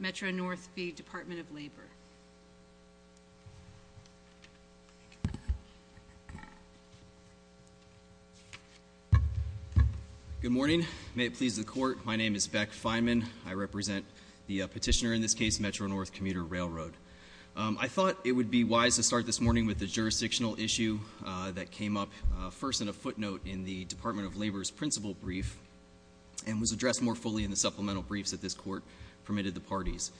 Metro-North v. Department of Labor. Good morning. May it please the court, my name is Beck Feynman. I represent the petitioner in this case, Metro-North Commuter Railroad. I thought it would be wise to start this morning with the jurisdictional issue that came up first in a footnote in the Department of Labor's principal brief and was addressed more fully in the supplemental briefs that this court permitted the parties.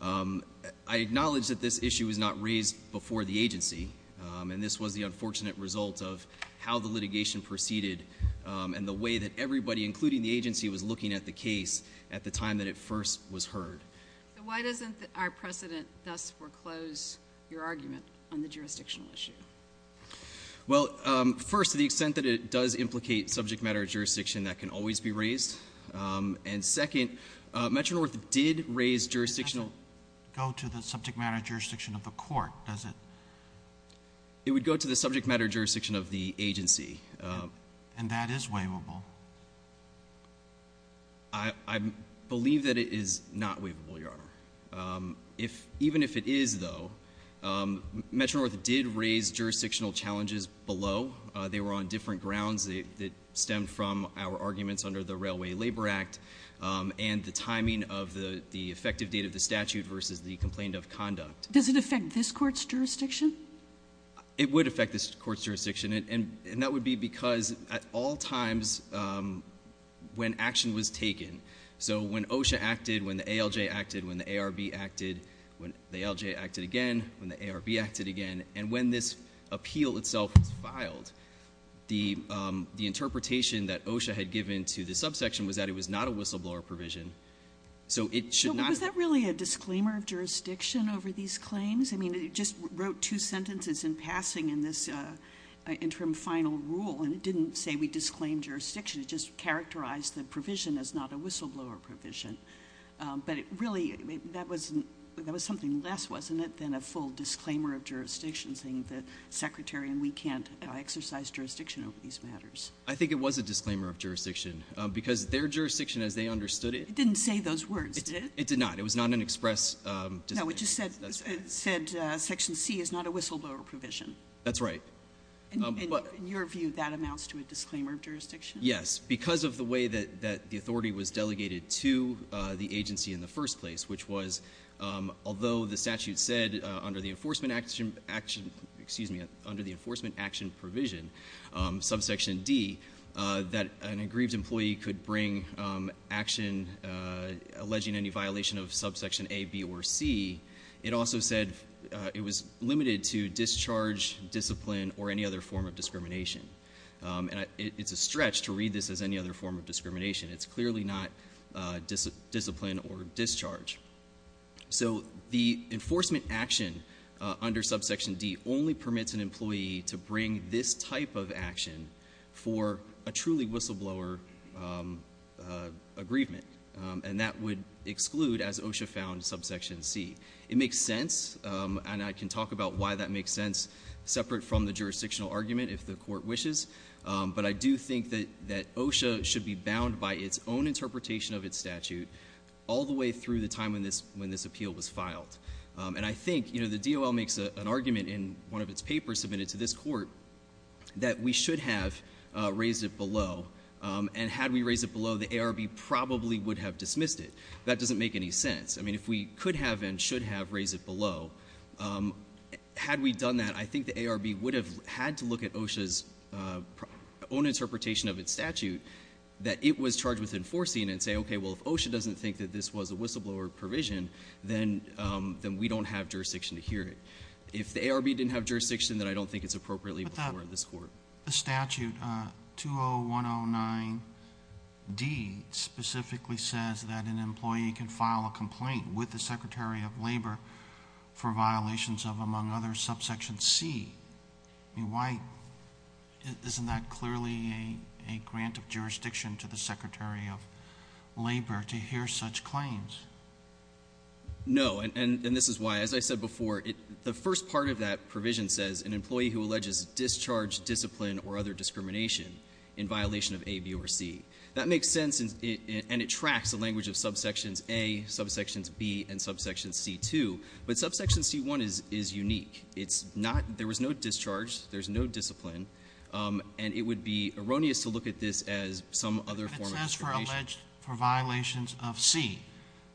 I acknowledge that this issue was not raised before the agency and this was the unfortunate result of how the litigation proceeded and the way that everybody, including the agency, was looking at the case at the time that it first was heard. Why doesn't our president thus foreclose your argument on the jurisdictional issue? Well, first, to the extent that it does implicate subject matter of jurisdiction, that can always be raised. And second, Metro-North did raise jurisdictional... It doesn't go to the subject matter of jurisdiction of the court, does it? It would go to the subject matter of jurisdiction of the agency. And that is waivable. I believe that it is not waivable, Your Honor. If, even if it is though, Metro-North did raise jurisdictional challenges below. They were on different grounds that stemmed from our arguments under the Railway Labor Act and the timing of the effective date of the statute versus the complaint of conduct. Does it affect this court's jurisdiction? It would affect this court's jurisdiction and that would be because at all times when action was taken, so when OSHA acted, when the ALJ acted, when the ARB acted, when the ALJ acted again, when the ARB acted again, and when this appeal itself was the interpretation that OSHA had given to the subsection was that it was not a whistleblower provision. So it should not... So was that really a disclaimer of jurisdiction over these claims? I mean, it just wrote two sentences in passing in this interim final rule and it didn't say we disclaim jurisdiction. It just characterized the provision as not a whistleblower provision. But it really, that was something less, wasn't it, than a full disclaimer of jurisdiction over these matters? I think it was a disclaimer of jurisdiction because their jurisdiction as they understood it... It didn't say those words, did it? It did not. It was not an express... No, it just said Section C is not a whistleblower provision. That's right. In your view, that amounts to a disclaimer of jurisdiction? Yes, because of the way that the authority was delegated to the agency in the first place, which was although the statute said under the Enforcement Action Provision, subsection D, that an aggrieved employee could bring action alleging any violation of subsection A, B, or C, it also said it was limited to discharge, discipline, or any other form of discrimination. And it's a stretch to read this as any other form of discrimination. It's clearly not discipline or discharge. So the Enforcement Action under subsection D only permits an employee to bring this type of action for a truly whistleblower aggrievement, and that would exclude, as OSHA found, subsection C. It makes sense, and I can talk about why that makes sense separate from the jurisdictional argument if the court wishes, but I do think that that OSHA should be bound by its own interpretation of its statute all the way through the time when this appeal was filed. And I think, you know, the DOL makes an argument in one of its papers submitted to this court that we should have raised it below, and had we raised it below, the ARB probably would have dismissed it. That doesn't make any sense. I mean, if we could have and should have raised it below, had we done that, I think the ARB would have had to look at OSHA's own interpretation of its statute that it was charged with enforcing and say, okay, well, if OSHA doesn't think that this was a whistleblower provision, then we don't have jurisdiction to hear it. If the ARB didn't have jurisdiction, then I don't think it's appropriately before this court. But the statute 20109D specifically says that an employee can file a complaint with the Secretary of Labor for violations of, among others, subsection C. I mean, isn't that clearly a grant of jurisdiction to the Secretary of Labor to hear such claims? No. And this is why, as I said before, the first part of that provision says an employee who alleges discharge, discipline, or other discrimination in violation of A, B, or C. That makes sense, and it tracks the language of subsections A, subsections B, and subsections C too. But subsection C-1 is unique. It's not, there was no discharge, there's no discipline, and it would be erroneous to look at this as some other form of discrimination. But it says for alleged, for violations of C,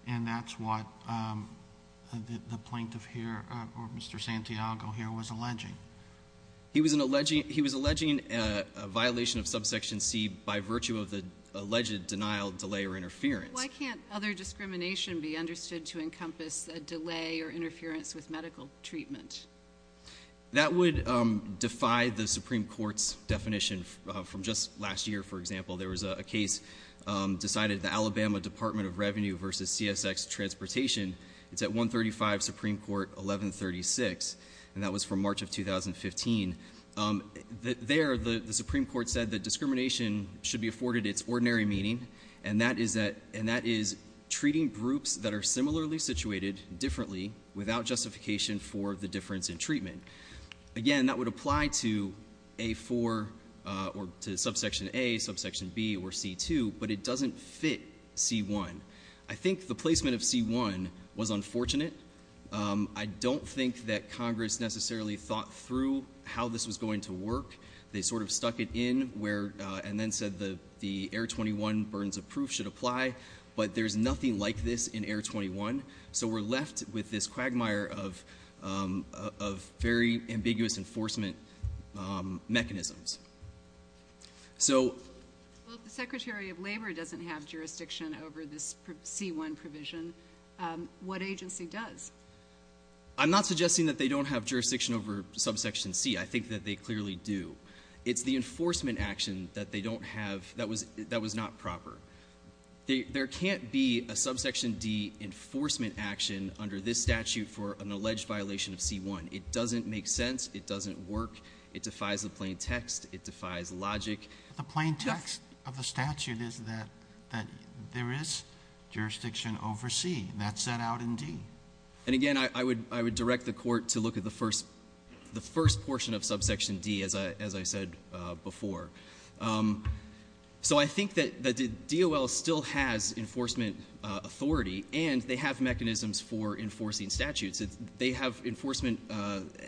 and that's what the plaintiff here, or Mr. Santiago here, was alleging. He was an alleging, he was alleging a violation of subsection C by virtue of the alleged denial, delay, or interference. Why can't other discrimination be understood to encompass a delay or interference with medical treatment? That would defy the Supreme Court's definition from just last year, for example. There was a case decided the Alabama Department of Revenue versus CSX Transportation. It's at 135 Supreme Court 1136, and that was from March of 2015. There, the Supreme Court said that discrimination should be afforded its ordinary meaning, and that is that, and that is treating groups that are similarly situated differently without justification for the difference in but it doesn't fit C-1. I think the placement of C-1 was unfortunate. I don't think that Congress necessarily thought through how this was going to work. They sort of stuck it in where, and then said the, the Air 21 burdens of proof should apply, but there's nothing like this in Air 21. So we're left with this quagmire of, of very ambiguous enforcement mechanisms. So... Well, if the Secretary of Labor doesn't have jurisdiction over this C-1 provision, what agency does? I'm not suggesting that they don't have jurisdiction over subsection C. I think that they clearly do. It's the enforcement action that they don't have, that was, that was not proper. They, there can't be a subsection D enforcement action under this statute for an alleged violation of C-1. It doesn't make sense. It doesn't work. It defies the plain text. It defies logic. The plain text of the statute is that, that there is jurisdiction over C. That's set out in D. And again, I, I would, I would direct the Court to look at the first, the first portion of subsection D as I, as I said before. So I think that, that the DOL still has enforcement authority, and they have mechanisms for enforcing statutes. It's, they have enforcement,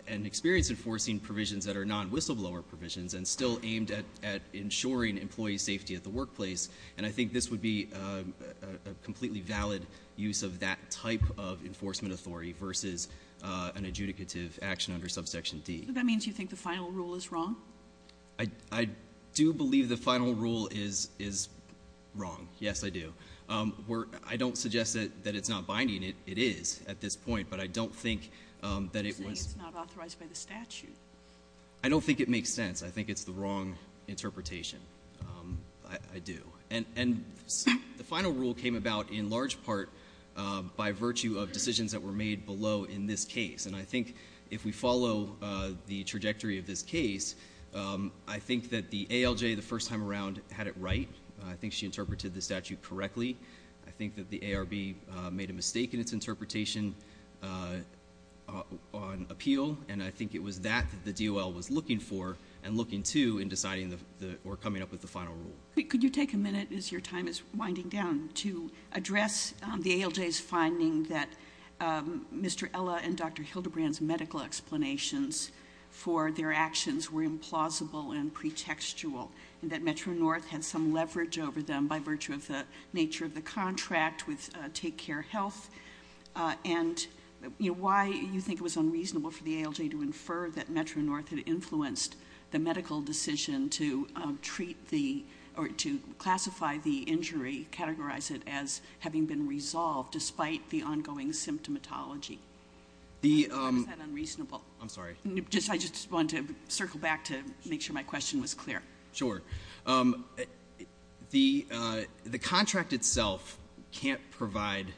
and experience enforcing provisions that are non-whistleblower provisions, and still aimed at, at ensuring employee safety at the workplace. And I think this would be a, a, a completely valid use of that type of enforcement authority versus an adjudicative action under subsection D. So that means you think the final rule is wrong? I, I do believe the final rule is, is wrong. Yes, I do. We're, I don't suggest that, that it's not binding. It, it is at this point. But I don't think that it You're saying it's not authorized by the statute. I don't think it makes sense. I think it's the wrong interpretation. I, I do. And, and the final rule came about in large part by virtue of decisions that were made below in this case. And I think if we follow the trajectory of this case, I think that the ALJ the first time around had it right. I think she interpreted the statute correctly. I think that the ARB made a mistake in its interpretation on appeal. And I think it was that the DOL was looking for and looking to in deciding the, the, or coming up with the final rule. Could you take a minute as your time is winding down to address the ALJ's finding that Mr. Ella and Dr. Hildebrand's medical explanations for their actions were implausible and pretextual, and that Metro-North had some leverage over them by virtue of the nature of the contract with Take Care Health. And you know why you think it was unreasonable for the ALJ to infer that Metro-North had influenced the medical decision to treat the, or to classify the injury, categorize it as having been resolved despite the ongoing symptomatology. Was that unreasonable? I'm sorry. Just, I just wanted to circle back to make sure my question was clear. Sure. The contract itself can't provide,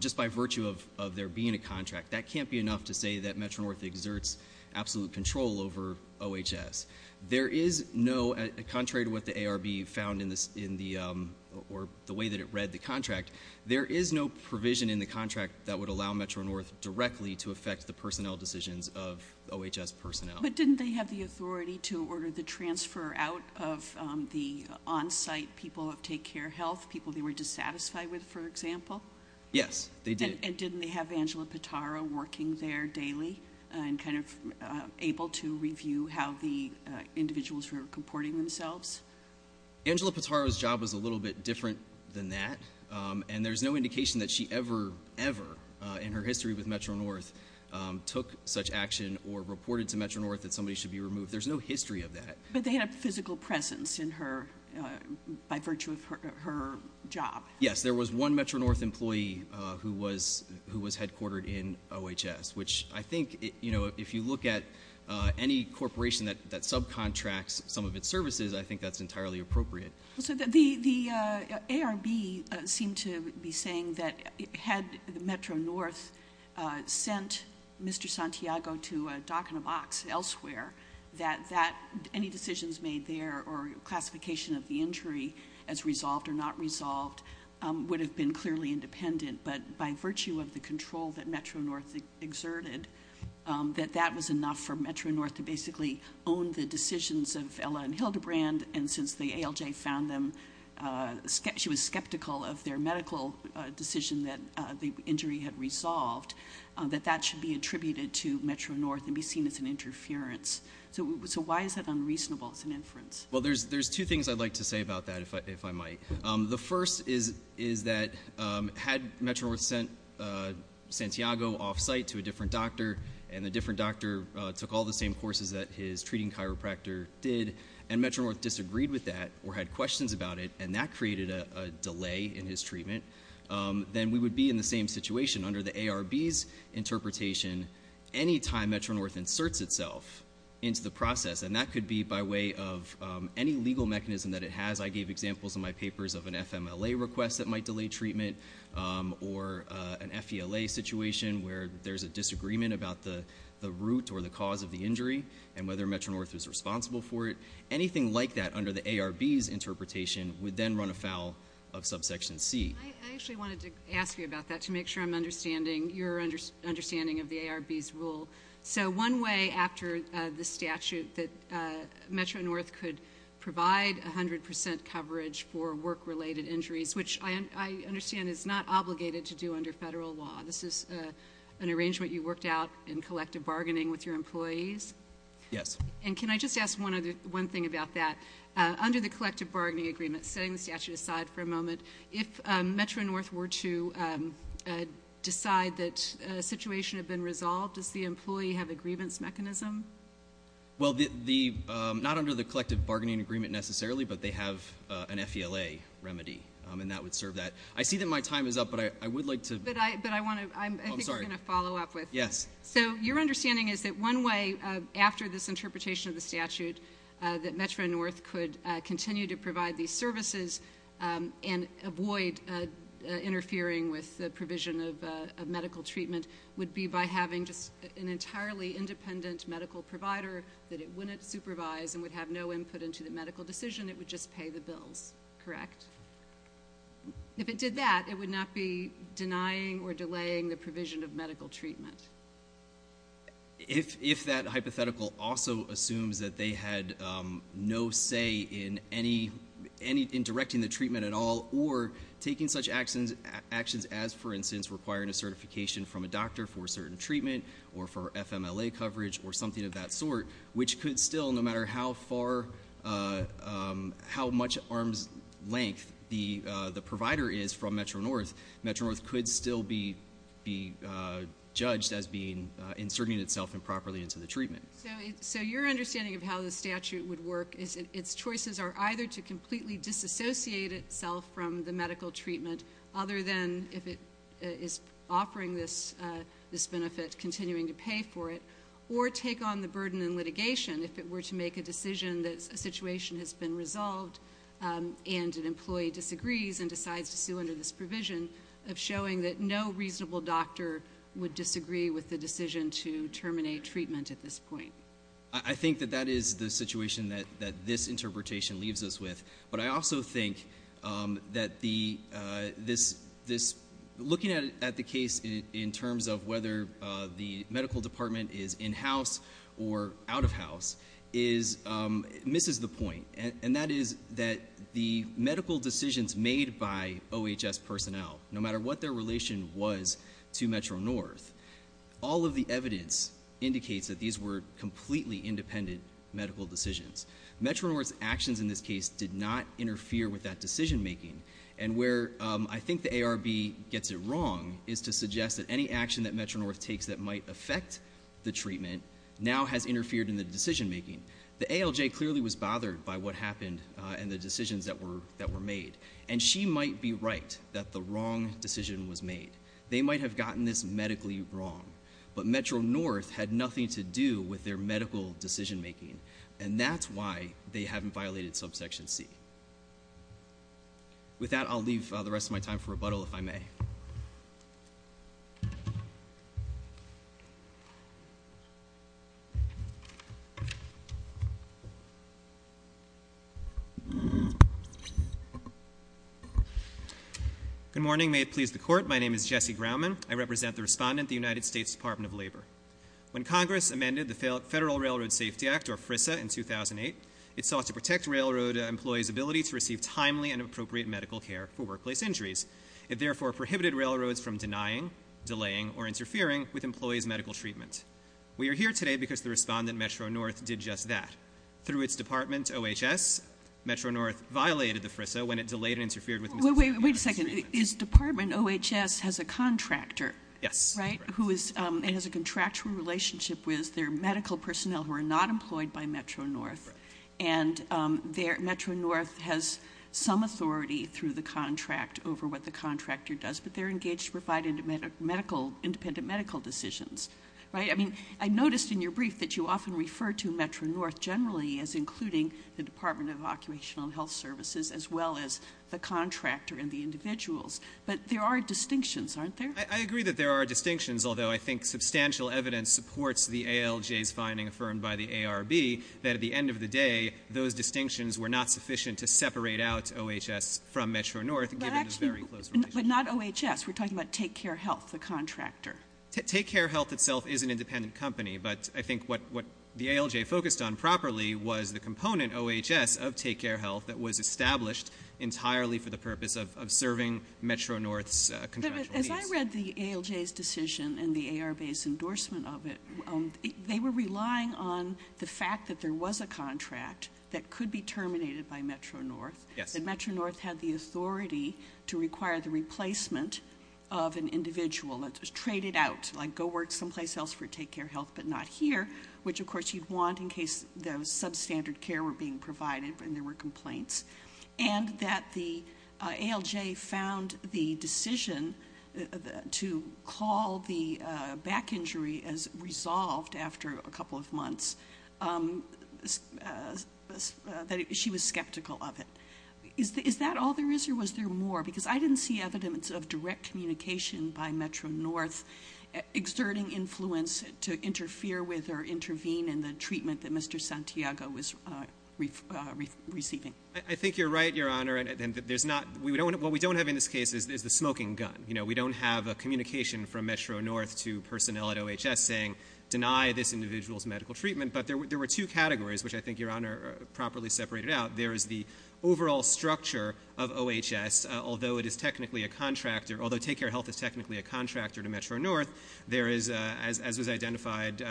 just by virtue of there being a contract, that can't be enough to say that Metro-North exerts absolute control over OHS. There is no, contrary to what the ARB found in the, or the way that it read the contract, there is no provision in the contract that would allow Metro-North directly to affect the personnel decisions of OHS personnel. But didn't they have the authority to order the transfer out of the on-site people of Take Care Health, people they were dissatisfied with, for example? Yes, they did. And didn't they have Angela Pitara working there daily and kind of able to review how the individuals were comporting themselves? Angela Pitara's job was a little bit different than that, and there's no indication that she ever, ever in her history with Metro-North took such action or reported to Metro-North that somebody should be removed. There's no history of that. But they had physical presence in her, by virtue of her job. Yes, there was one Metro-North employee who was headquartered in OHS, which I think, you know, if you look at any corporation that subcontracts some of its services, I think that's entirely appropriate. So the ARB seemed to be saying that had Metro-North sent Mr. Santiago to a dock and a box elsewhere, that any decisions made there or classification of the injury as resolved or not resolved would have been clearly independent. But by virtue of the control that Metro-North exerted, that that was enough for Metro-North to basically own the decisions of Ella and Hildebrand. And since the ALJ found them, she was skeptical of their medical decision that the injury had resolved, that that should be attributed to Metro-North and be seen as an interference. So why is that unreasonable as an inference? Well, there's two things I'd like to say about that, if I might. The first is that had Metro-North sent Santiago off-site to a different doctor and the different doctor took all the same courses that his treating chiropractor did and Metro-North disagreed with that or had questions about it and that created a delay in his treatment, then we would be in the same situation. Under the ARB's interpretation, any time Metro-North inserts itself into the process, and that could be by way of any legal mechanism that it has. I gave examples in my papers of an FMLA request that might delay treatment or an FELA situation where there's a disagreement about the root or the cause of the injury and whether Metro-North is responsible for it. Anything like that under the ARB's interpretation would then run afoul of subsection C. I actually wanted to ask you about that to make sure I'm understanding your understanding of the ARB's rule. So one way after the statute that Metro-North could provide 100 percent coverage for work-related injuries, which I understand is not obligated to do under federal law. This is an arrangement you worked out in collective bargaining with your employees? Yes. And can I just ask one thing about that? Under the collective bargaining agreement, setting the statute aside for a moment, if Metro-North were to decide that a situation had been resolved, does the employee have a grievance mechanism? Well, not under the collective bargaining agreement necessarily, but they have an FELA remedy, and that would serve that. I see that my time is up, but I would like to – I'm sorry. I think I'm going to follow up with this. Yes. So your understanding is that one way after this interpretation of the statute that Metro-North could continue to provide these services and avoid interfering with the provision of medical treatment would be by having just an entirely independent medical provider that it wouldn't supervise and would have no input into the medical decision. It would just pay the bills, correct? If it did that, it would not be denying or delaying the provision of medical treatment. If that hypothetical also assumes that they had no say in directing the treatment at all or taking such actions as, for instance, requiring a certification from a doctor for a certain treatment or for FMLA coverage or something of that sort, which could still, no matter how much arm's length the provider is from Metro-North, Metro-North could still be judged as inserting itself improperly into the treatment. So your understanding of how the statute would work is its choices are either to completely disassociate itself from the medical treatment other than if it is offering this benefit, continuing to pay for it, or take on the burden in litigation if it were to make a decision that a situation has been resolved and an employee disagrees and decides to sue under this provision of showing that no reasonable doctor would disagree with the decision to terminate treatment at this point. I think that that is the situation that this interpretation leaves us with. But I also think that looking at the case in terms of whether the medical department is in-house or out-of-house misses the point, and that is that the medical decisions made by OHS personnel, no matter what their relation was to Metro-North, all of the evidence indicates that these were completely independent medical decisions. Metro-North's actions in this case did not interfere with that decision-making, and where I think the ARB gets it wrong is to suggest that any action that Metro-North takes that might affect the treatment now has interfered in the decision-making. The ALJ clearly was bothered by what happened and the decisions that were made, and she might be right that the wrong decision was made. They might have gotten this medically wrong, but Metro-North had nothing to do with their medical decision-making, and that's why they haven't violated Subsection C. With that, I'll leave the rest of my time for rebuttal, if I may. Good morning. May it please the Court, my name is Jesse Grauman. I represent the respondent, the United States Department of Labor. When Congress amended the Federal Railroad Safety Act, or FRISA, in 2008, it sought to protect railroad employees' ability to receive timely and appropriate medical care for workplace injuries. It therefore prohibited railroads from denying, delaying, or interfering with employees' medical treatment. We are here today because the respondent, Metro-North, did just that. Through its department, OHS, Metro-North violated the FRISA when it delayed and interfered with medical treatment. Wait a second. His department, OHS, has a contractor, right? Yes. Who has a contractual relationship with their medical personnel who are not employed by Metro-North, and Metro-North has some authority through the contract over what the contractor does, but they're engaged to provide independent medical decisions, right? I mean, I noticed in your brief that you often refer to Metro-North generally as including the Department of Occupational and Health Services as well as the contractor and the individuals, but there are distinctions, aren't there? I agree that there are distinctions, although I think substantial evidence supports the ALJ's finding affirmed by the ARB that at the end of the day those distinctions were not sufficient to separate out OHS from Metro-North, given the very close relationship. But not OHS. We're talking about Take Care Health, the contractor. Take Care Health itself is an independent company, but I think what the ALJ focused on properly was the component, OHS, of Take Care Health that was established entirely for the purpose of serving Metro-North's contractual needs. As I read the ALJ's decision and the ARB's endorsement of it, they were relying on the fact that there was a contract that could be terminated by Metro-North, that Metro-North had the authority to require the replacement of an individual. It was traded out, like go work someplace else for Take Care Health but not here, which of course you'd want in case the substandard care were being provided and there were complaints, and that the ALJ found the decision to call the back injury as resolved after a couple of months, that she was skeptical of it. Is that all there is or was there more? Because I didn't see evidence of direct communication by Metro-North exerting influence to interfere with or intervene in the treatment that Mr. Santiago was receiving. I think you're right, Your Honor. What we don't have in this case is the smoking gun. We don't have a communication from Metro-North to personnel at OHS saying, deny this individual's medical treatment. But there were two categories, which I think, Your Honor, are properly separated out. There is the overall structure of OHS, although it is technically a contractor, although Take Care Health is technically a contractor to Metro-North, there is, as was identified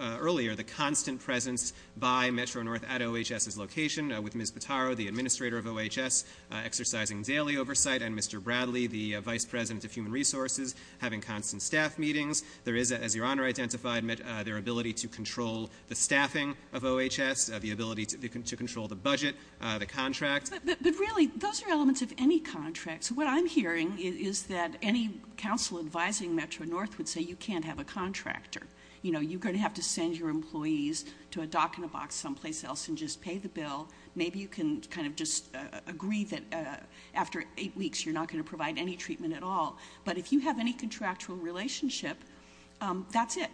earlier, the constant presence by Metro-North at OHS's location, with Ms. Potaro, the administrator of OHS, exercising daily oversight, and Mr. Bradley, the vice president of human resources, having constant staff meetings. There is, as Your Honor identified, their ability to control the staffing of OHS, the ability to control the budget, the contract. But really, those are elements of any contract. So what I'm hearing is that any counsel advising Metro-North would say you can't have a contractor. You know, you're going to have to send your employees to a dock in a box someplace else and just pay the bill. Maybe you can kind of just agree that after eight weeks you're not going to provide any treatment at all. But if you have any contractual relationship, that's it.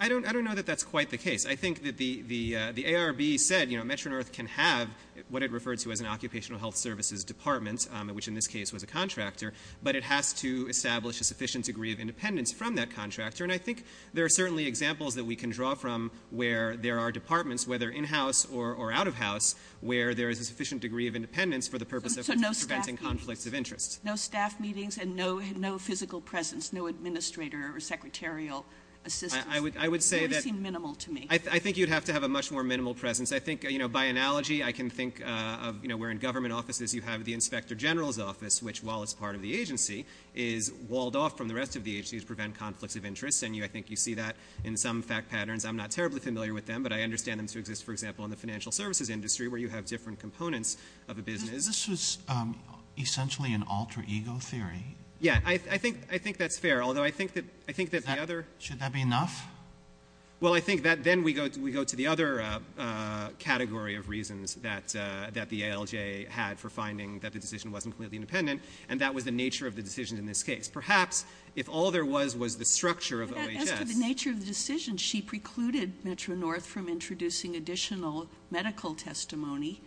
I don't know that that's quite the case. I think that the ARB said, you know, Metro-North can have what it referred to as an occupational health services department, which in this case was a contractor, but it has to establish a sufficient degree of independence from that contractor. And I think there are certainly examples that we can draw from where there are departments, whether in-house or out-of-house, where there is a sufficient degree of independence for the purpose of preventing conflicts of interest. So no staff meetings and no physical presence, no administrator or secretarial assistance? I would say that- It would seem minimal to me. I think you'd have to have a much more minimal presence. I think, you know, by analogy, I can think of, you know, where in government offices you have the inspector general's office, which, while it's part of the agency, is walled off from the rest of the agency to prevent conflicts of interest. And I think you see that in some fact patterns. I'm not terribly familiar with them, but I understand them to exist, for example, in the financial services industry where you have different components of a business. This was essentially an alter ego theory. Yeah, I think that's fair, although I think that the other- Should that be enough? Well, I think that then we go to the other category of reasons that the ALJ had for finding that the decision wasn't completely independent, and that was the nature of the decision in this case. Perhaps if all there was was the structure of OHS- As to the nature of the decision, she precluded Metro-North from introducing additional medical testimony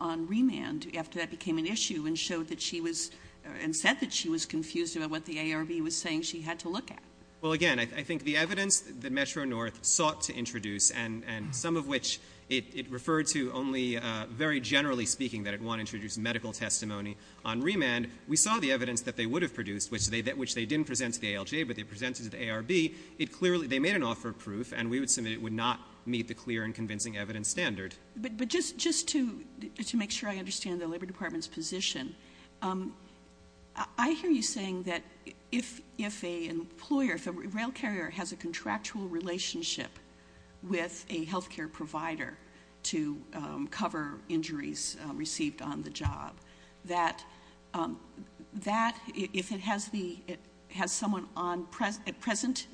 on remand after that became an issue and said that she was confused about what the ARB was saying she had to look at. Well, again, I think the evidence that Metro-North sought to introduce, and some of which it referred to only very generally speaking that it wanted to introduce medical testimony on remand, we saw the evidence that they would have produced, which they didn't present to the ALJ, but they presented to the ARB. They made an offer of proof, and we would submit it would not meet the clear and convincing evidence standard. But just to make sure I understand the Labor Department's position, I hear you saying that if a rail carrier has a contractual relationship with a health care provider to cover injuries received on the job, that if it has someone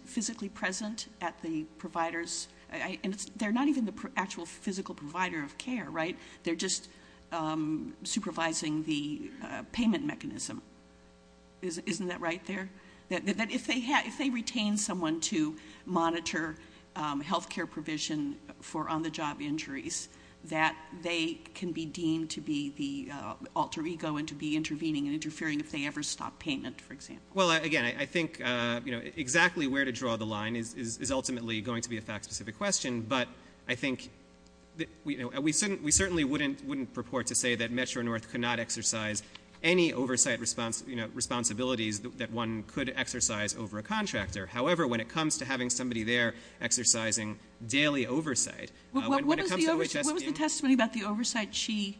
physically present at the provider's- and they're not even the actual physical provider of care, right? They're just supervising the payment mechanism. Isn't that right there? That if they retain someone to monitor health care provision for on-the-job injuries, that they can be deemed to be the alter ego and to be intervening and interfering if they ever stop payment, for example. Well, again, I think exactly where to draw the line is ultimately going to be a fact-specific question, but we certainly wouldn't purport to say that Metro-North could not exercise any oversight responsibilities that one could exercise over a contractor. However, when it comes to having somebody there exercising daily oversight- What was the testimony about the oversight she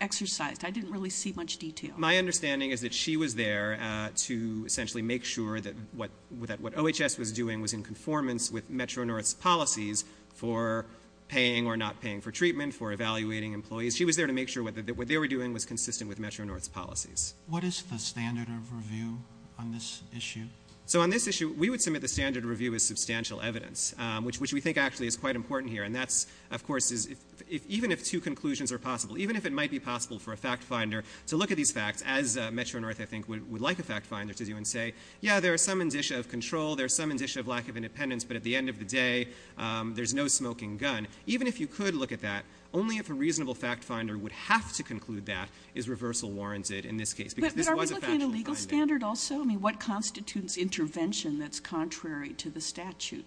exercised? I didn't really see much detail. My understanding is that she was there to essentially make sure that what OHS was doing was in conformance with Metro-North's policies for paying or not paying for treatment, for evaluating employees. She was there to make sure that what they were doing was consistent with Metro-North's policies. What is the standard of review on this issue? So on this issue, we would submit the standard review as substantial evidence, which we think actually is quite important here. And that, of course, even if two conclusions are possible, even if it might be possible for a fact-finder to look at these facts, as Metro-North, I think, would like a fact-finder to do, and say, yeah, there are some indicia of control, there are some indicia of lack of independence, but at the end of the day, there's no smoking gun. Even if you could look at that, only if a reasonable fact-finder would have to conclude that is reversal warranted in this case. But are we looking at a legal standard also? I mean, what constitutes intervention that's contrary to the statute?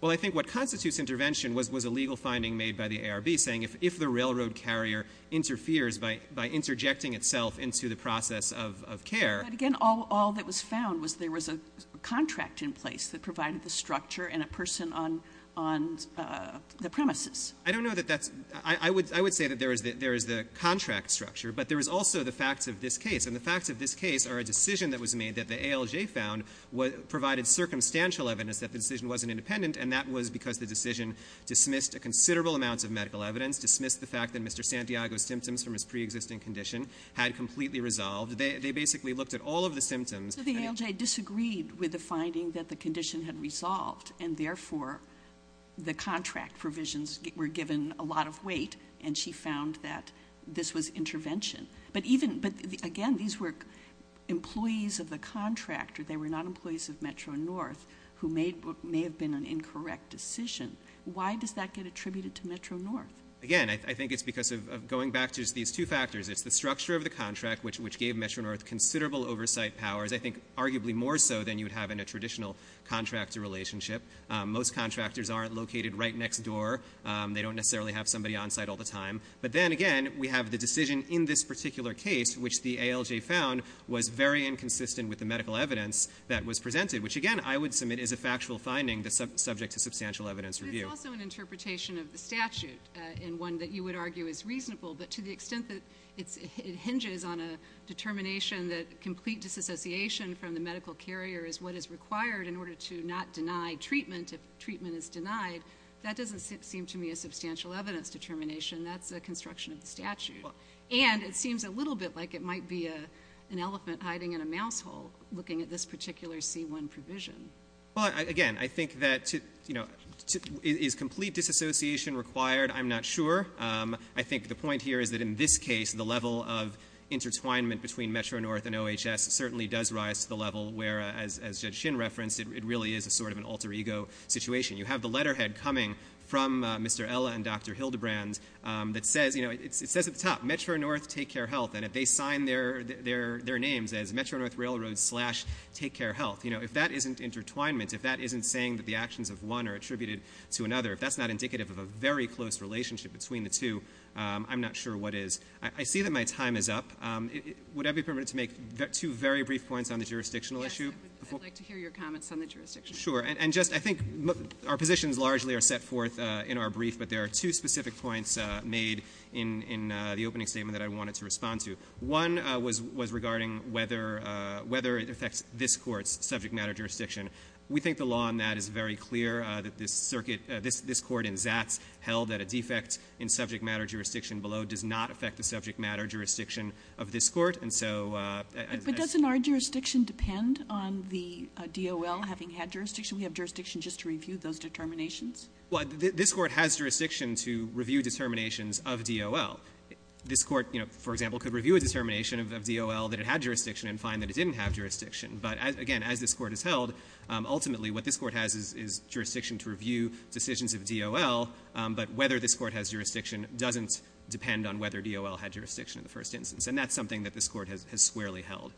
Well, I think what constitutes intervention was a legal finding made by the ARB saying if the railroad carrier interferes by interjecting itself into the process of care- But again, all that was found was there was a contract in place that provided the structure and a person on the premises. I don't know that that's – I would say that there is the contract structure, but there is also the facts of this case. And the facts of this case are a decision that was made that the ALJ found provided circumstantial evidence that the decision wasn't independent, and that was because the decision dismissed a considerable amount of medical evidence, dismissed the fact that Mr. Santiago's symptoms from his preexisting condition had completely resolved. They basically looked at all of the symptoms. So the ALJ disagreed with the finding that the condition had resolved, and therefore the contract provisions were given a lot of weight, and she found that this was intervention. But again, these were employees of the contractor. They were not employees of Metro-North who may have been an incorrect decision. Why does that get attributed to Metro-North? Again, I think it's because of going back to these two factors. It's the structure of the contract, which gave Metro-North considerable oversight powers, I think arguably more so than you would have in a traditional contractor relationship. Most contractors aren't located right next door. They don't necessarily have somebody on site all the time. But then, again, we have the decision in this particular case, which the ALJ found was very inconsistent with the medical evidence that was presented, which, again, I would submit is a factual finding subject to substantial evidence review. But it's also an interpretation of the statute in one that you would argue is reasonable, but to the extent that it hinges on a determination that complete disassociation from the medical carrier is what is required in order to not deny treatment if treatment is denied, that doesn't seem to me a substantial evidence determination. That's a construction of the statute. And it seems a little bit like it might be an elephant hiding in a mouse hole, looking at this particular C-1 provision. Well, again, I think that, you know, is complete disassociation required? I'm not sure. I think the point here is that, in this case, the level of intertwinement between Metro-North and OHS certainly does rise to the level where, as Judge Shin referenced, it really is a sort of an alter ego situation. You have the letterhead coming from Mr. Ella and Dr. Hildebrand that says, you know, it says at the top, Metro-North Take Care Health, and if they sign their names as Metro-North Railroad slash Take Care Health, you know, if that isn't intertwinement, if that isn't saying that the actions of one are attributed to another, if that's not indicative of a very close relationship between the two, I'm not sure what is. I see that my time is up. Would I be permitted to make two very brief points on the jurisdictional issue? Yes, I'd like to hear your comments on the jurisdiction. Sure. And just I think our positions largely are set forth in our brief, but there are two specific points made in the opening statement that I wanted to respond to. One was regarding whether it affects this court's subject matter jurisdiction. We think the law on that is very clear, that this circuit, this court in Zatz held that a defect in subject matter jurisdiction below does not affect the subject matter jurisdiction of this court. And so as I said ---- But doesn't our jurisdiction depend on the DOL having had jurisdiction? We have jurisdiction just to review those determinations. Well, this court has jurisdiction to review determinations of DOL. This court, you know, for example, could review a determination of DOL that it had jurisdiction and find that it didn't have jurisdiction. But, again, as this court has held, ultimately what this court has is jurisdiction to review decisions of DOL. But whether this court has jurisdiction doesn't depend on whether DOL had jurisdiction in the first instance. And that's something that this court has squarely held.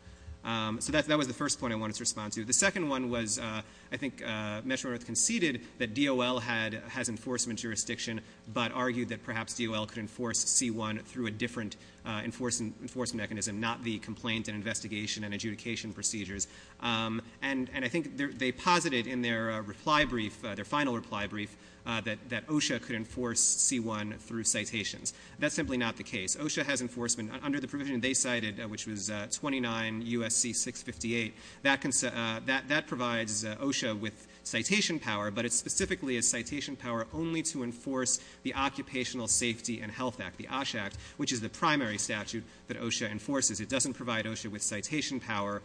So that was the first point I wanted to respond to. The second one was I think Meshner conceded that DOL has enforcement jurisdiction but argued that perhaps DOL could enforce C-1 through a different enforcement mechanism, not the complaint and investigation and adjudication procedures. And I think they posited in their reply brief, their final reply brief, that OSHA could enforce C-1 through citations. That's simply not the case. OSHA has enforcement. Under the provision they cited, which was 29 U.S.C. 658, that provides OSHA with citation power, but it's specifically a citation power only to enforce the Occupational Safety and Health Act, the OSHA Act, which is the primary statute that OSHA enforces. It doesn't provide OSHA with citation power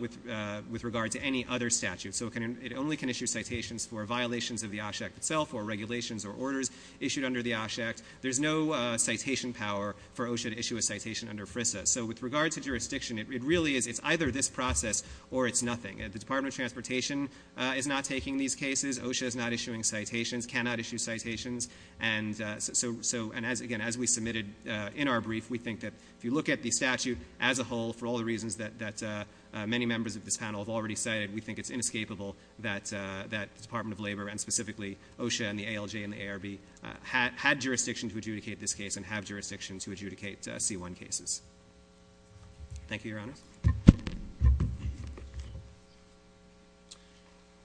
with regard to any other statute. So it only can issue citations for violations of the OSHA Act itself or regulations or orders issued under the OSHA Act. There's no citation power for OSHA to issue a citation under FRISA. So with regard to jurisdiction, it really is either this process or it's nothing. The Department of Transportation is not taking these cases. OSHA is not issuing citations, cannot issue citations. And, again, as we submitted in our brief, we think that if you look at the statute as a whole, for all the reasons that many members of this panel have already cited, we think it's inescapable that the Department of Labor and specifically OSHA and the ALJ and the ARB had jurisdiction to adjudicate this case and have jurisdiction to adjudicate C-1 cases. Thank you, Your Honors.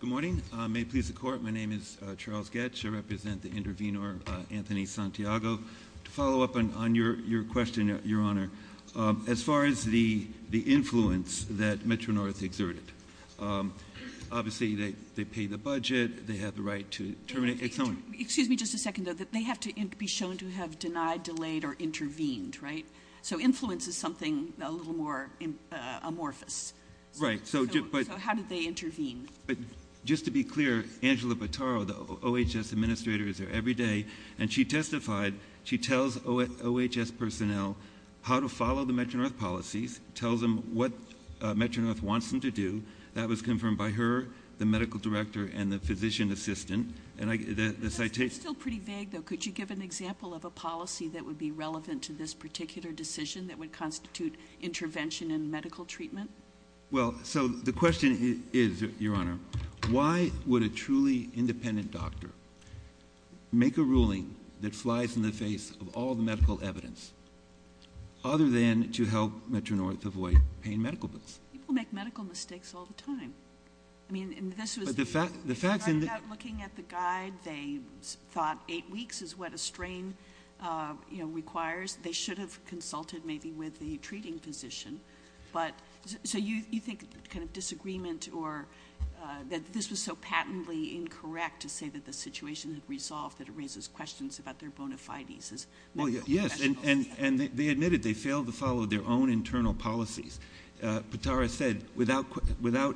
Good morning. May it please the Court, my name is Charles Goetsch. I represent the intervenor, Anthony Santiago. To follow up on your question, Your Honor, as far as the influence that Metro-North exerted, obviously they pay the budget, they have the right to terminate. Excuse me just a second, though. They have to be shown to have denied, delayed, or intervened, right? So influence is something a little more amorphous. Right. So how did they intervene? Just to be clear, Angela Bataro, the OHS administrator, is there every day, and she testified, she tells OHS personnel how to follow the Metro-North policies, tells them what Metro-North wants them to do. That was confirmed by her, the medical director, and the physician assistant. That's still pretty vague, though. Could you give an example of a policy that would be relevant to this particular decision that would constitute intervention in medical treatment? Well, so the question is, Your Honor, why would a truly independent doctor make a ruling that flies in the face of all the medical evidence other than to help Metro-North avoid paying medical bills? People make medical mistakes all the time. I mean, this was the fact that looking at the guide, they thought eight weeks is what a strain requires. They should have consulted maybe with the treating physician. So you think kind of disagreement or that this was so patently incorrect to say that the situation had resolved that it raises questions about their bona fides. Yes, and they admitted they failed to follow their own internal policies. Bataro said, without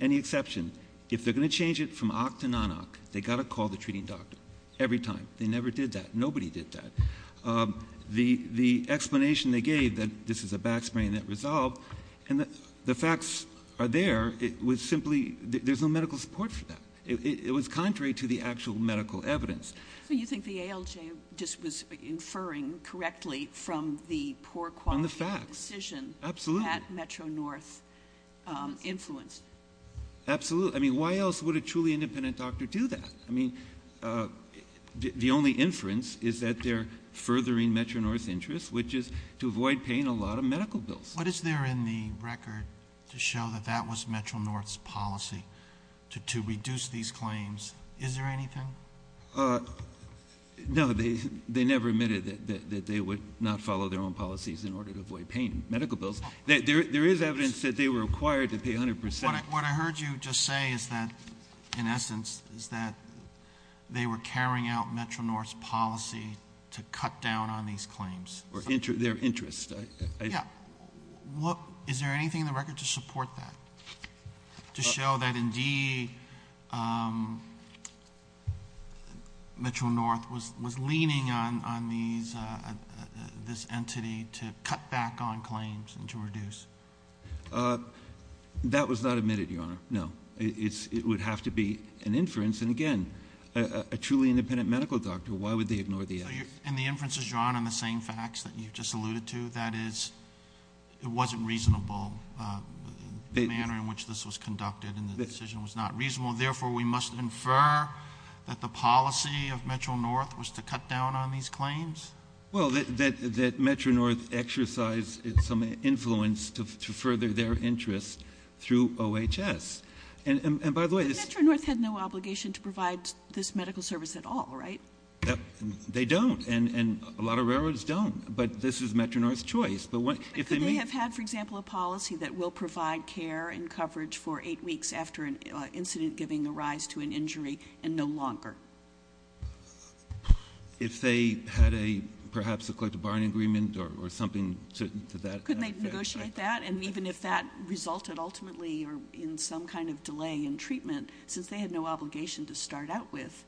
any exception, if they're going to change it from oc to non-oc, they've got to call the treating doctor every time. They never did that. Nobody did that. The explanation they gave that this is a back sprain that resolved, and the facts are there, it was simply there's no medical support for that. It was contrary to the actual medical evidence. So you think the ALJ just was inferring correctly from the poor quality of the decision that Metro-North influenced? Absolutely. I mean, why else would a truly independent doctor do that? I mean, the only inference is that they're furthering Metro-North's interest, which is to avoid paying a lot of medical bills. What is there in the record to show that that was Metro-North's policy to reduce these claims? Is there anything? No, they never admitted that they would not follow their own policies in order to avoid paying medical bills. There is evidence that they were required to pay 100%. What I heard you just say is that, in essence, is that they were carrying out Metro-North's policy to cut down on these claims. Their interest. Yeah. Is there anything in the record to support that, to show that, indeed, Metro-North was leaning on this entity to cut back on claims and to reduce? That was not admitted, Your Honor. No. It would have to be an inference. And, again, a truly independent medical doctor, why would they ignore the evidence? And the inference is drawn on the same facts that you just alluded to, that is, it wasn't reasonable, the manner in which this was conducted, and the decision was not reasonable. Therefore, we must infer that the policy of Metro-North was to cut down on these claims? Well, that Metro-North exercised some influence to further their interest through OHS. And, by the way, this- But Metro-North had no obligation to provide this medical service at all, right? They don't, and a lot of railroads don't. But this was Metro-North's choice. But could they have had, for example, a policy that will provide care and coverage for eight weeks after an incident giving rise to an injury and no longer? If they had a, perhaps, a collective bargaining agreement or something to that effect? Couldn't they negotiate that? And even if that resulted ultimately in some kind of delay in treatment, since they had no obligation to start out with,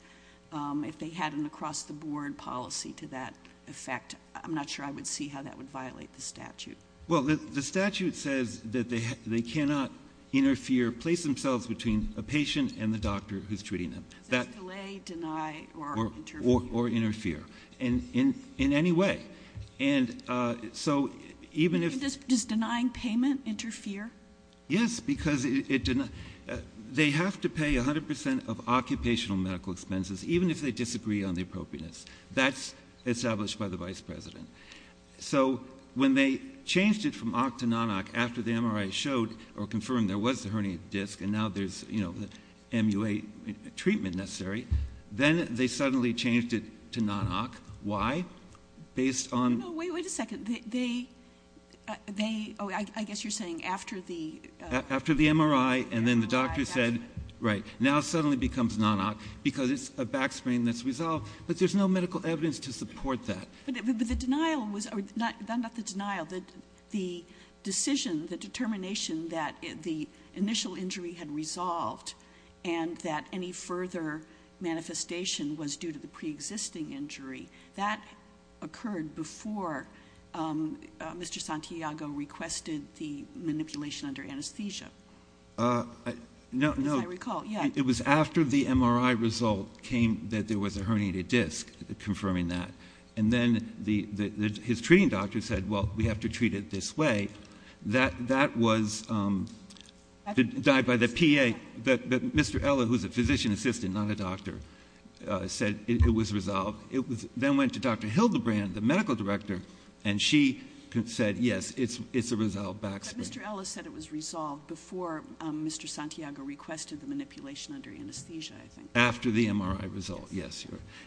if they had an across-the-board policy to that effect, I'm not sure I would see how that would violate the statute. Well, the statute says that they cannot interfere, place themselves between a patient and the doctor who's treating them. So it's delay, deny, or interfere. Or interfere in any way. And so even if- Does denying payment interfere? Yes, because they have to pay 100 percent of occupational medical expenses even if they disagree on the appropriateness. That's established by the vice president. So when they changed it from OC to non-OC after the MRI showed or confirmed there was a herniated disc and now there's, you know, MUA treatment necessary, then they suddenly changed it to non-OC. Why? Based on- No, wait a second. They, oh, I guess you're saying after the- After the MRI and then the doctor said, right, now it suddenly becomes non-OC because it's a backsprain that's resolved. But there's no medical evidence to support that. But the denial was- Not the denial. The decision, the determination that the initial injury had resolved and that any further manifestation was due to the preexisting injury, that occurred before Mr. Santiago requested the manipulation under anesthesia. As I recall, yeah. No, it was after the MRI result came that there was a herniated disc confirming that. And then his treating doctor said, well, we have to treat it this way. That was denied by the PA. But Mr. Ellis, who's a physician assistant, not a doctor, said it was resolved. It then went to Dr. Hildebrand, the medical director, and she said, yes, it's a resolved backsprain. But Mr. Ellis said it was resolved before Mr. Santiago requested the manipulation under anesthesia, I think. After the MRI result, yes.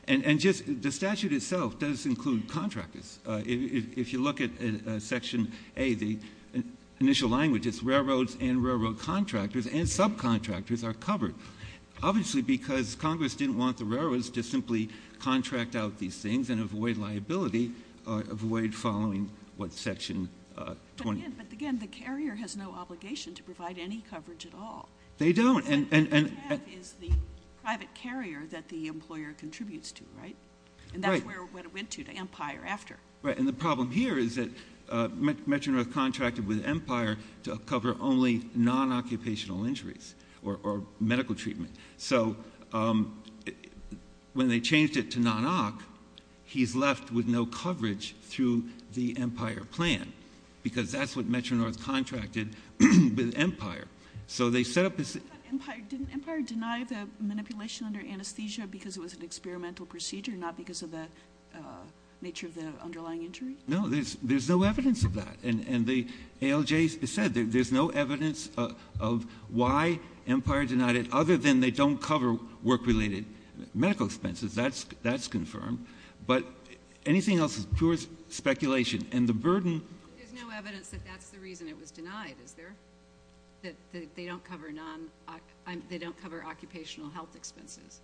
The statute itself does include contractors. If you look at Section A, the initial language, it's railroads and railroad contractors and subcontractors are covered, obviously because Congress didn't want the railroads to simply contract out these things and avoid liability, avoid following what Section 20- But, again, the carrier has no obligation to provide any coverage at all. They don't. What they have is the private carrier that the employer contributes to, right? And that's what it went to, to Empire, after. And the problem here is that Metro-North contracted with Empire to cover only non-occupational injuries or medical treatment. So when they changed it to non-OC, he's left with no coverage through the Empire plan Didn't Empire deny the manipulation under anesthesia because it was an experimental procedure, not because of the nature of the underlying injury? No, there's no evidence of that. And the ALJ said there's no evidence of why Empire denied it, other than they don't cover work-related medical expenses. That's confirmed. But anything else is pure speculation. And the burden- There's no evidence that that's the reason it was denied, is there? That they don't cover occupational health expenses.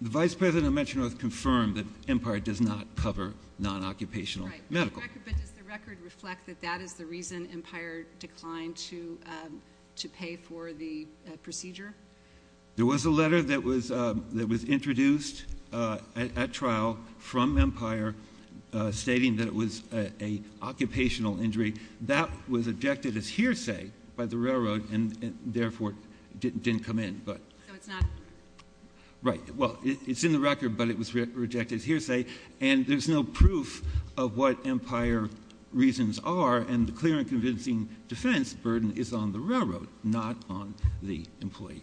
The Vice President of Metro-North confirmed that Empire does not cover non-occupational medical. Right, but does the record reflect that that is the reason Empire declined to pay for the procedure? There was a letter that was introduced at trial from Empire stating that it was an occupational injury. That was objected as hearsay by the Railroad and therefore didn't come in. So it's not- Right. Well, it's in the record, but it was rejected as hearsay. And there's no proof of what Empire reasons are. And the clear and convincing defense burden is on the Railroad, not on the employee.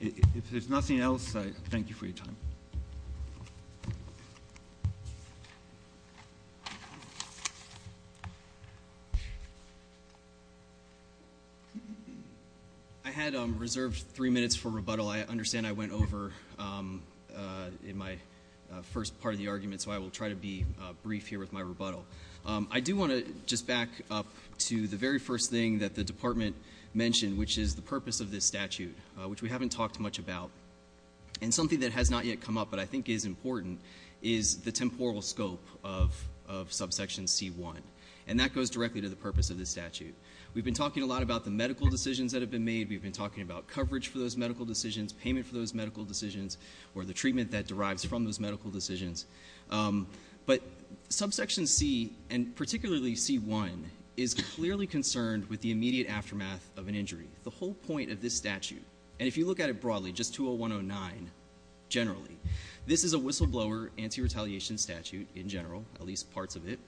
If there's nothing else, I thank you for your time. Thank you. I had reserved three minutes for rebuttal. I understand I went over in my first part of the argument, so I will try to be brief here with my rebuttal. I do want to just back up to the very first thing that the department mentioned, which is the purpose of this statute, which we haven't talked much about. And something that has not yet come up but I think is important is the temporal scope of subsection C-1. And that goes directly to the purpose of this statute. We've been talking a lot about the medical decisions that have been made. We've been talking about coverage for those medical decisions, payment for those medical decisions, or the treatment that derives from those medical decisions. But subsection C, and particularly C-1, is clearly concerned with the immediate aftermath of an injury. The whole point of this statute, and if you look at it broadly, just 20109 generally, this is a whistleblower anti-retaliation statute in general, at least parts of it.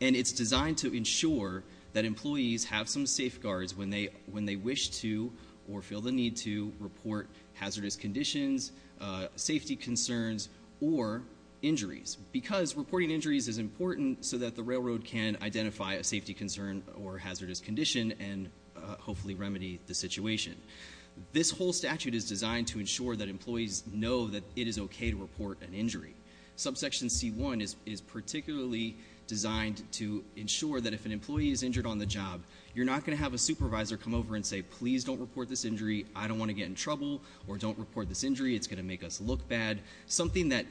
And it's designed to ensure that employees have some safeguards when they wish to or feel the need to report hazardous conditions, safety concerns, or injuries. Because reporting injuries is important so that the Railroad can identify a safety concern or hazardous condition and hopefully remedy the situation. This whole statute is designed to ensure that employees know that it is okay to report an injury. Subsection C-1 is particularly designed to ensure that if an employee is injured on the job, you're not going to have a supervisor come over and say, please don't report this injury, I don't want to get in trouble, or don't report this injury, it's going to make us look bad. Something that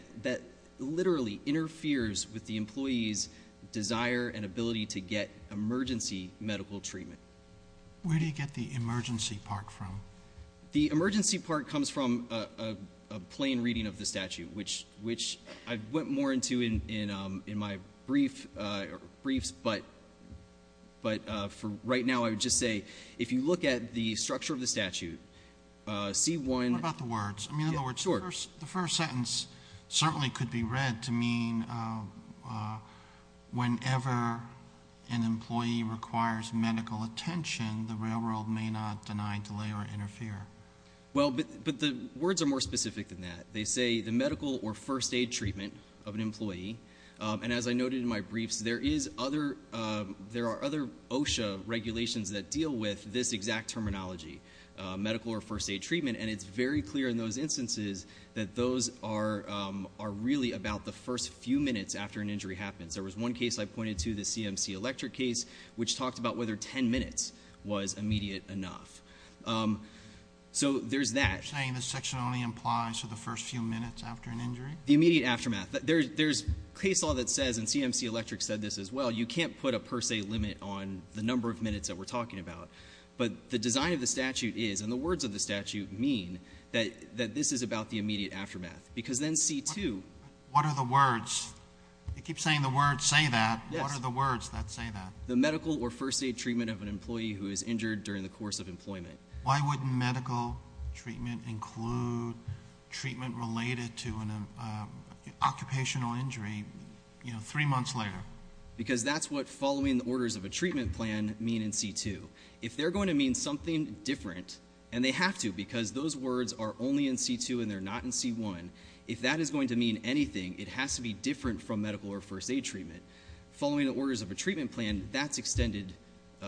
literally interferes with the employee's desire and ability to get emergency medical treatment. Where do you get the emergency part from? The emergency part comes from a plain reading of the statute, which I went more into in my briefs, but for right now I would just say if you look at the structure of the statute, C-1- What about the words? The first sentence certainly could be read to mean whenever an employee requires medical attention, the Railroad may not deny, delay, or interfere. Well, but the words are more specific than that. They say the medical or first aid treatment of an employee, and as I noted in my briefs, there are other OSHA regulations that deal with this exact terminology, medical or first aid treatment, and it's very clear in those instances that those are really about the first few minutes after an injury happens. There was one case I pointed to, the CMC Electric case, which talked about whether ten minutes was immediate enough. So there's that. You're saying this section only implies for the first few minutes after an injury? The immediate aftermath. There's case law that says, and CMC Electric said this as well, you can't put a per se limit on the number of minutes that we're talking about. But the design of the statute is, and the words of the statute mean, that this is about the immediate aftermath. Because then C-2- What are the words? You keep saying the words say that. What are the words that say that? The medical or first aid treatment of an employee who is injured during the course of employment. Why wouldn't medical treatment include treatment related to an occupational injury three months later? Because that's what following the orders of a treatment plan mean in C-2. If they're going to mean something different, and they have to because those words are only in C-2 and they're not in C-1. If that is going to mean anything, it has to be different from medical or first aid treatment. Following the orders of a treatment plan, that's extended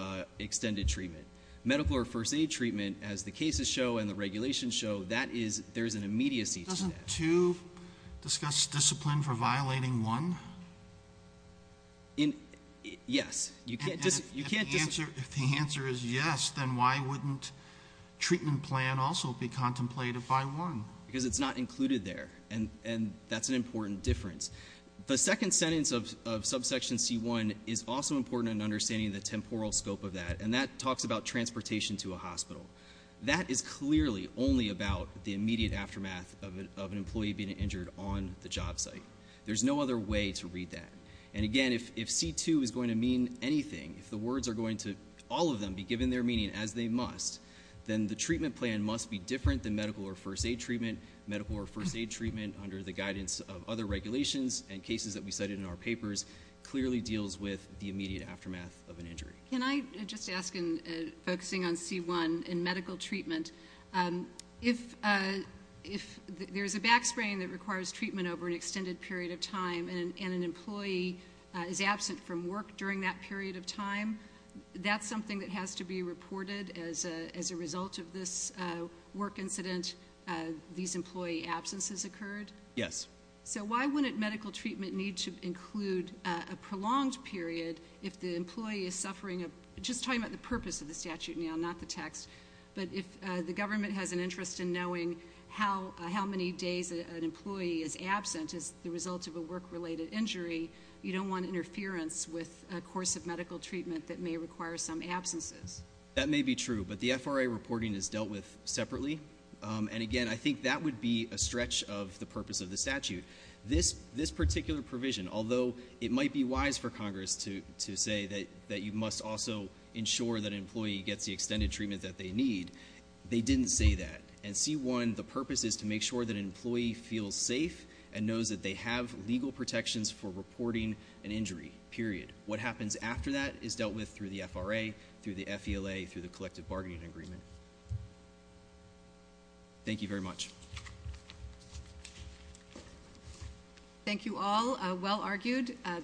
treatment. Medical or first aid treatment, as the cases show and the regulations show, there's an immediacy to that. Does C-2 discuss discipline for violating one? Yes. If the answer is yes, then why wouldn't treatment plan also be contemplated by one? Because it's not included there, and that's an important difference. The second sentence of subsection C-1 is also important in understanding the temporal scope of that. And that talks about transportation to a hospital. That is clearly only about the immediate aftermath of an employee being injured on the job site. There's no other way to read that. And again, if C-2 is going to mean anything, if the words are going to, all of them, be given their meaning as they must, then the treatment plan must be different than medical or first aid treatment. Medical or first aid treatment, under the guidance of other regulations and cases that we cited in our papers, clearly deals with the immediate aftermath of an injury. Can I just ask, focusing on C-1 and medical treatment, if there's a back sprain that requires treatment over an extended period of time and an employee is absent from work during that period of time, that's something that has to be reported as a result of this work incident, these employee absences occurred? Yes. So why wouldn't medical treatment need to include a prolonged period if the employee is suffering a, just talking about the purpose of the statute now, not the text, but if the government has an interest in knowing how many days an employee is absent as the result of a work-related injury, you don't want interference with a course of medical treatment that may require some absences? That may be true, but the FRA reporting is dealt with separately. And again, I think that would be a stretch of the purpose of the statute. This particular provision, although it might be wise for Congress to say that you must also ensure that an employee gets the extended treatment that they need, they didn't say that. And C-1, the purpose is to make sure that an employee feels safe and knows that they have legal protections for reporting an injury, period. What happens after that is dealt with through the FRA, through the FELA, through the collective bargaining agreement. Thank you very much. Thank you all. Well argued.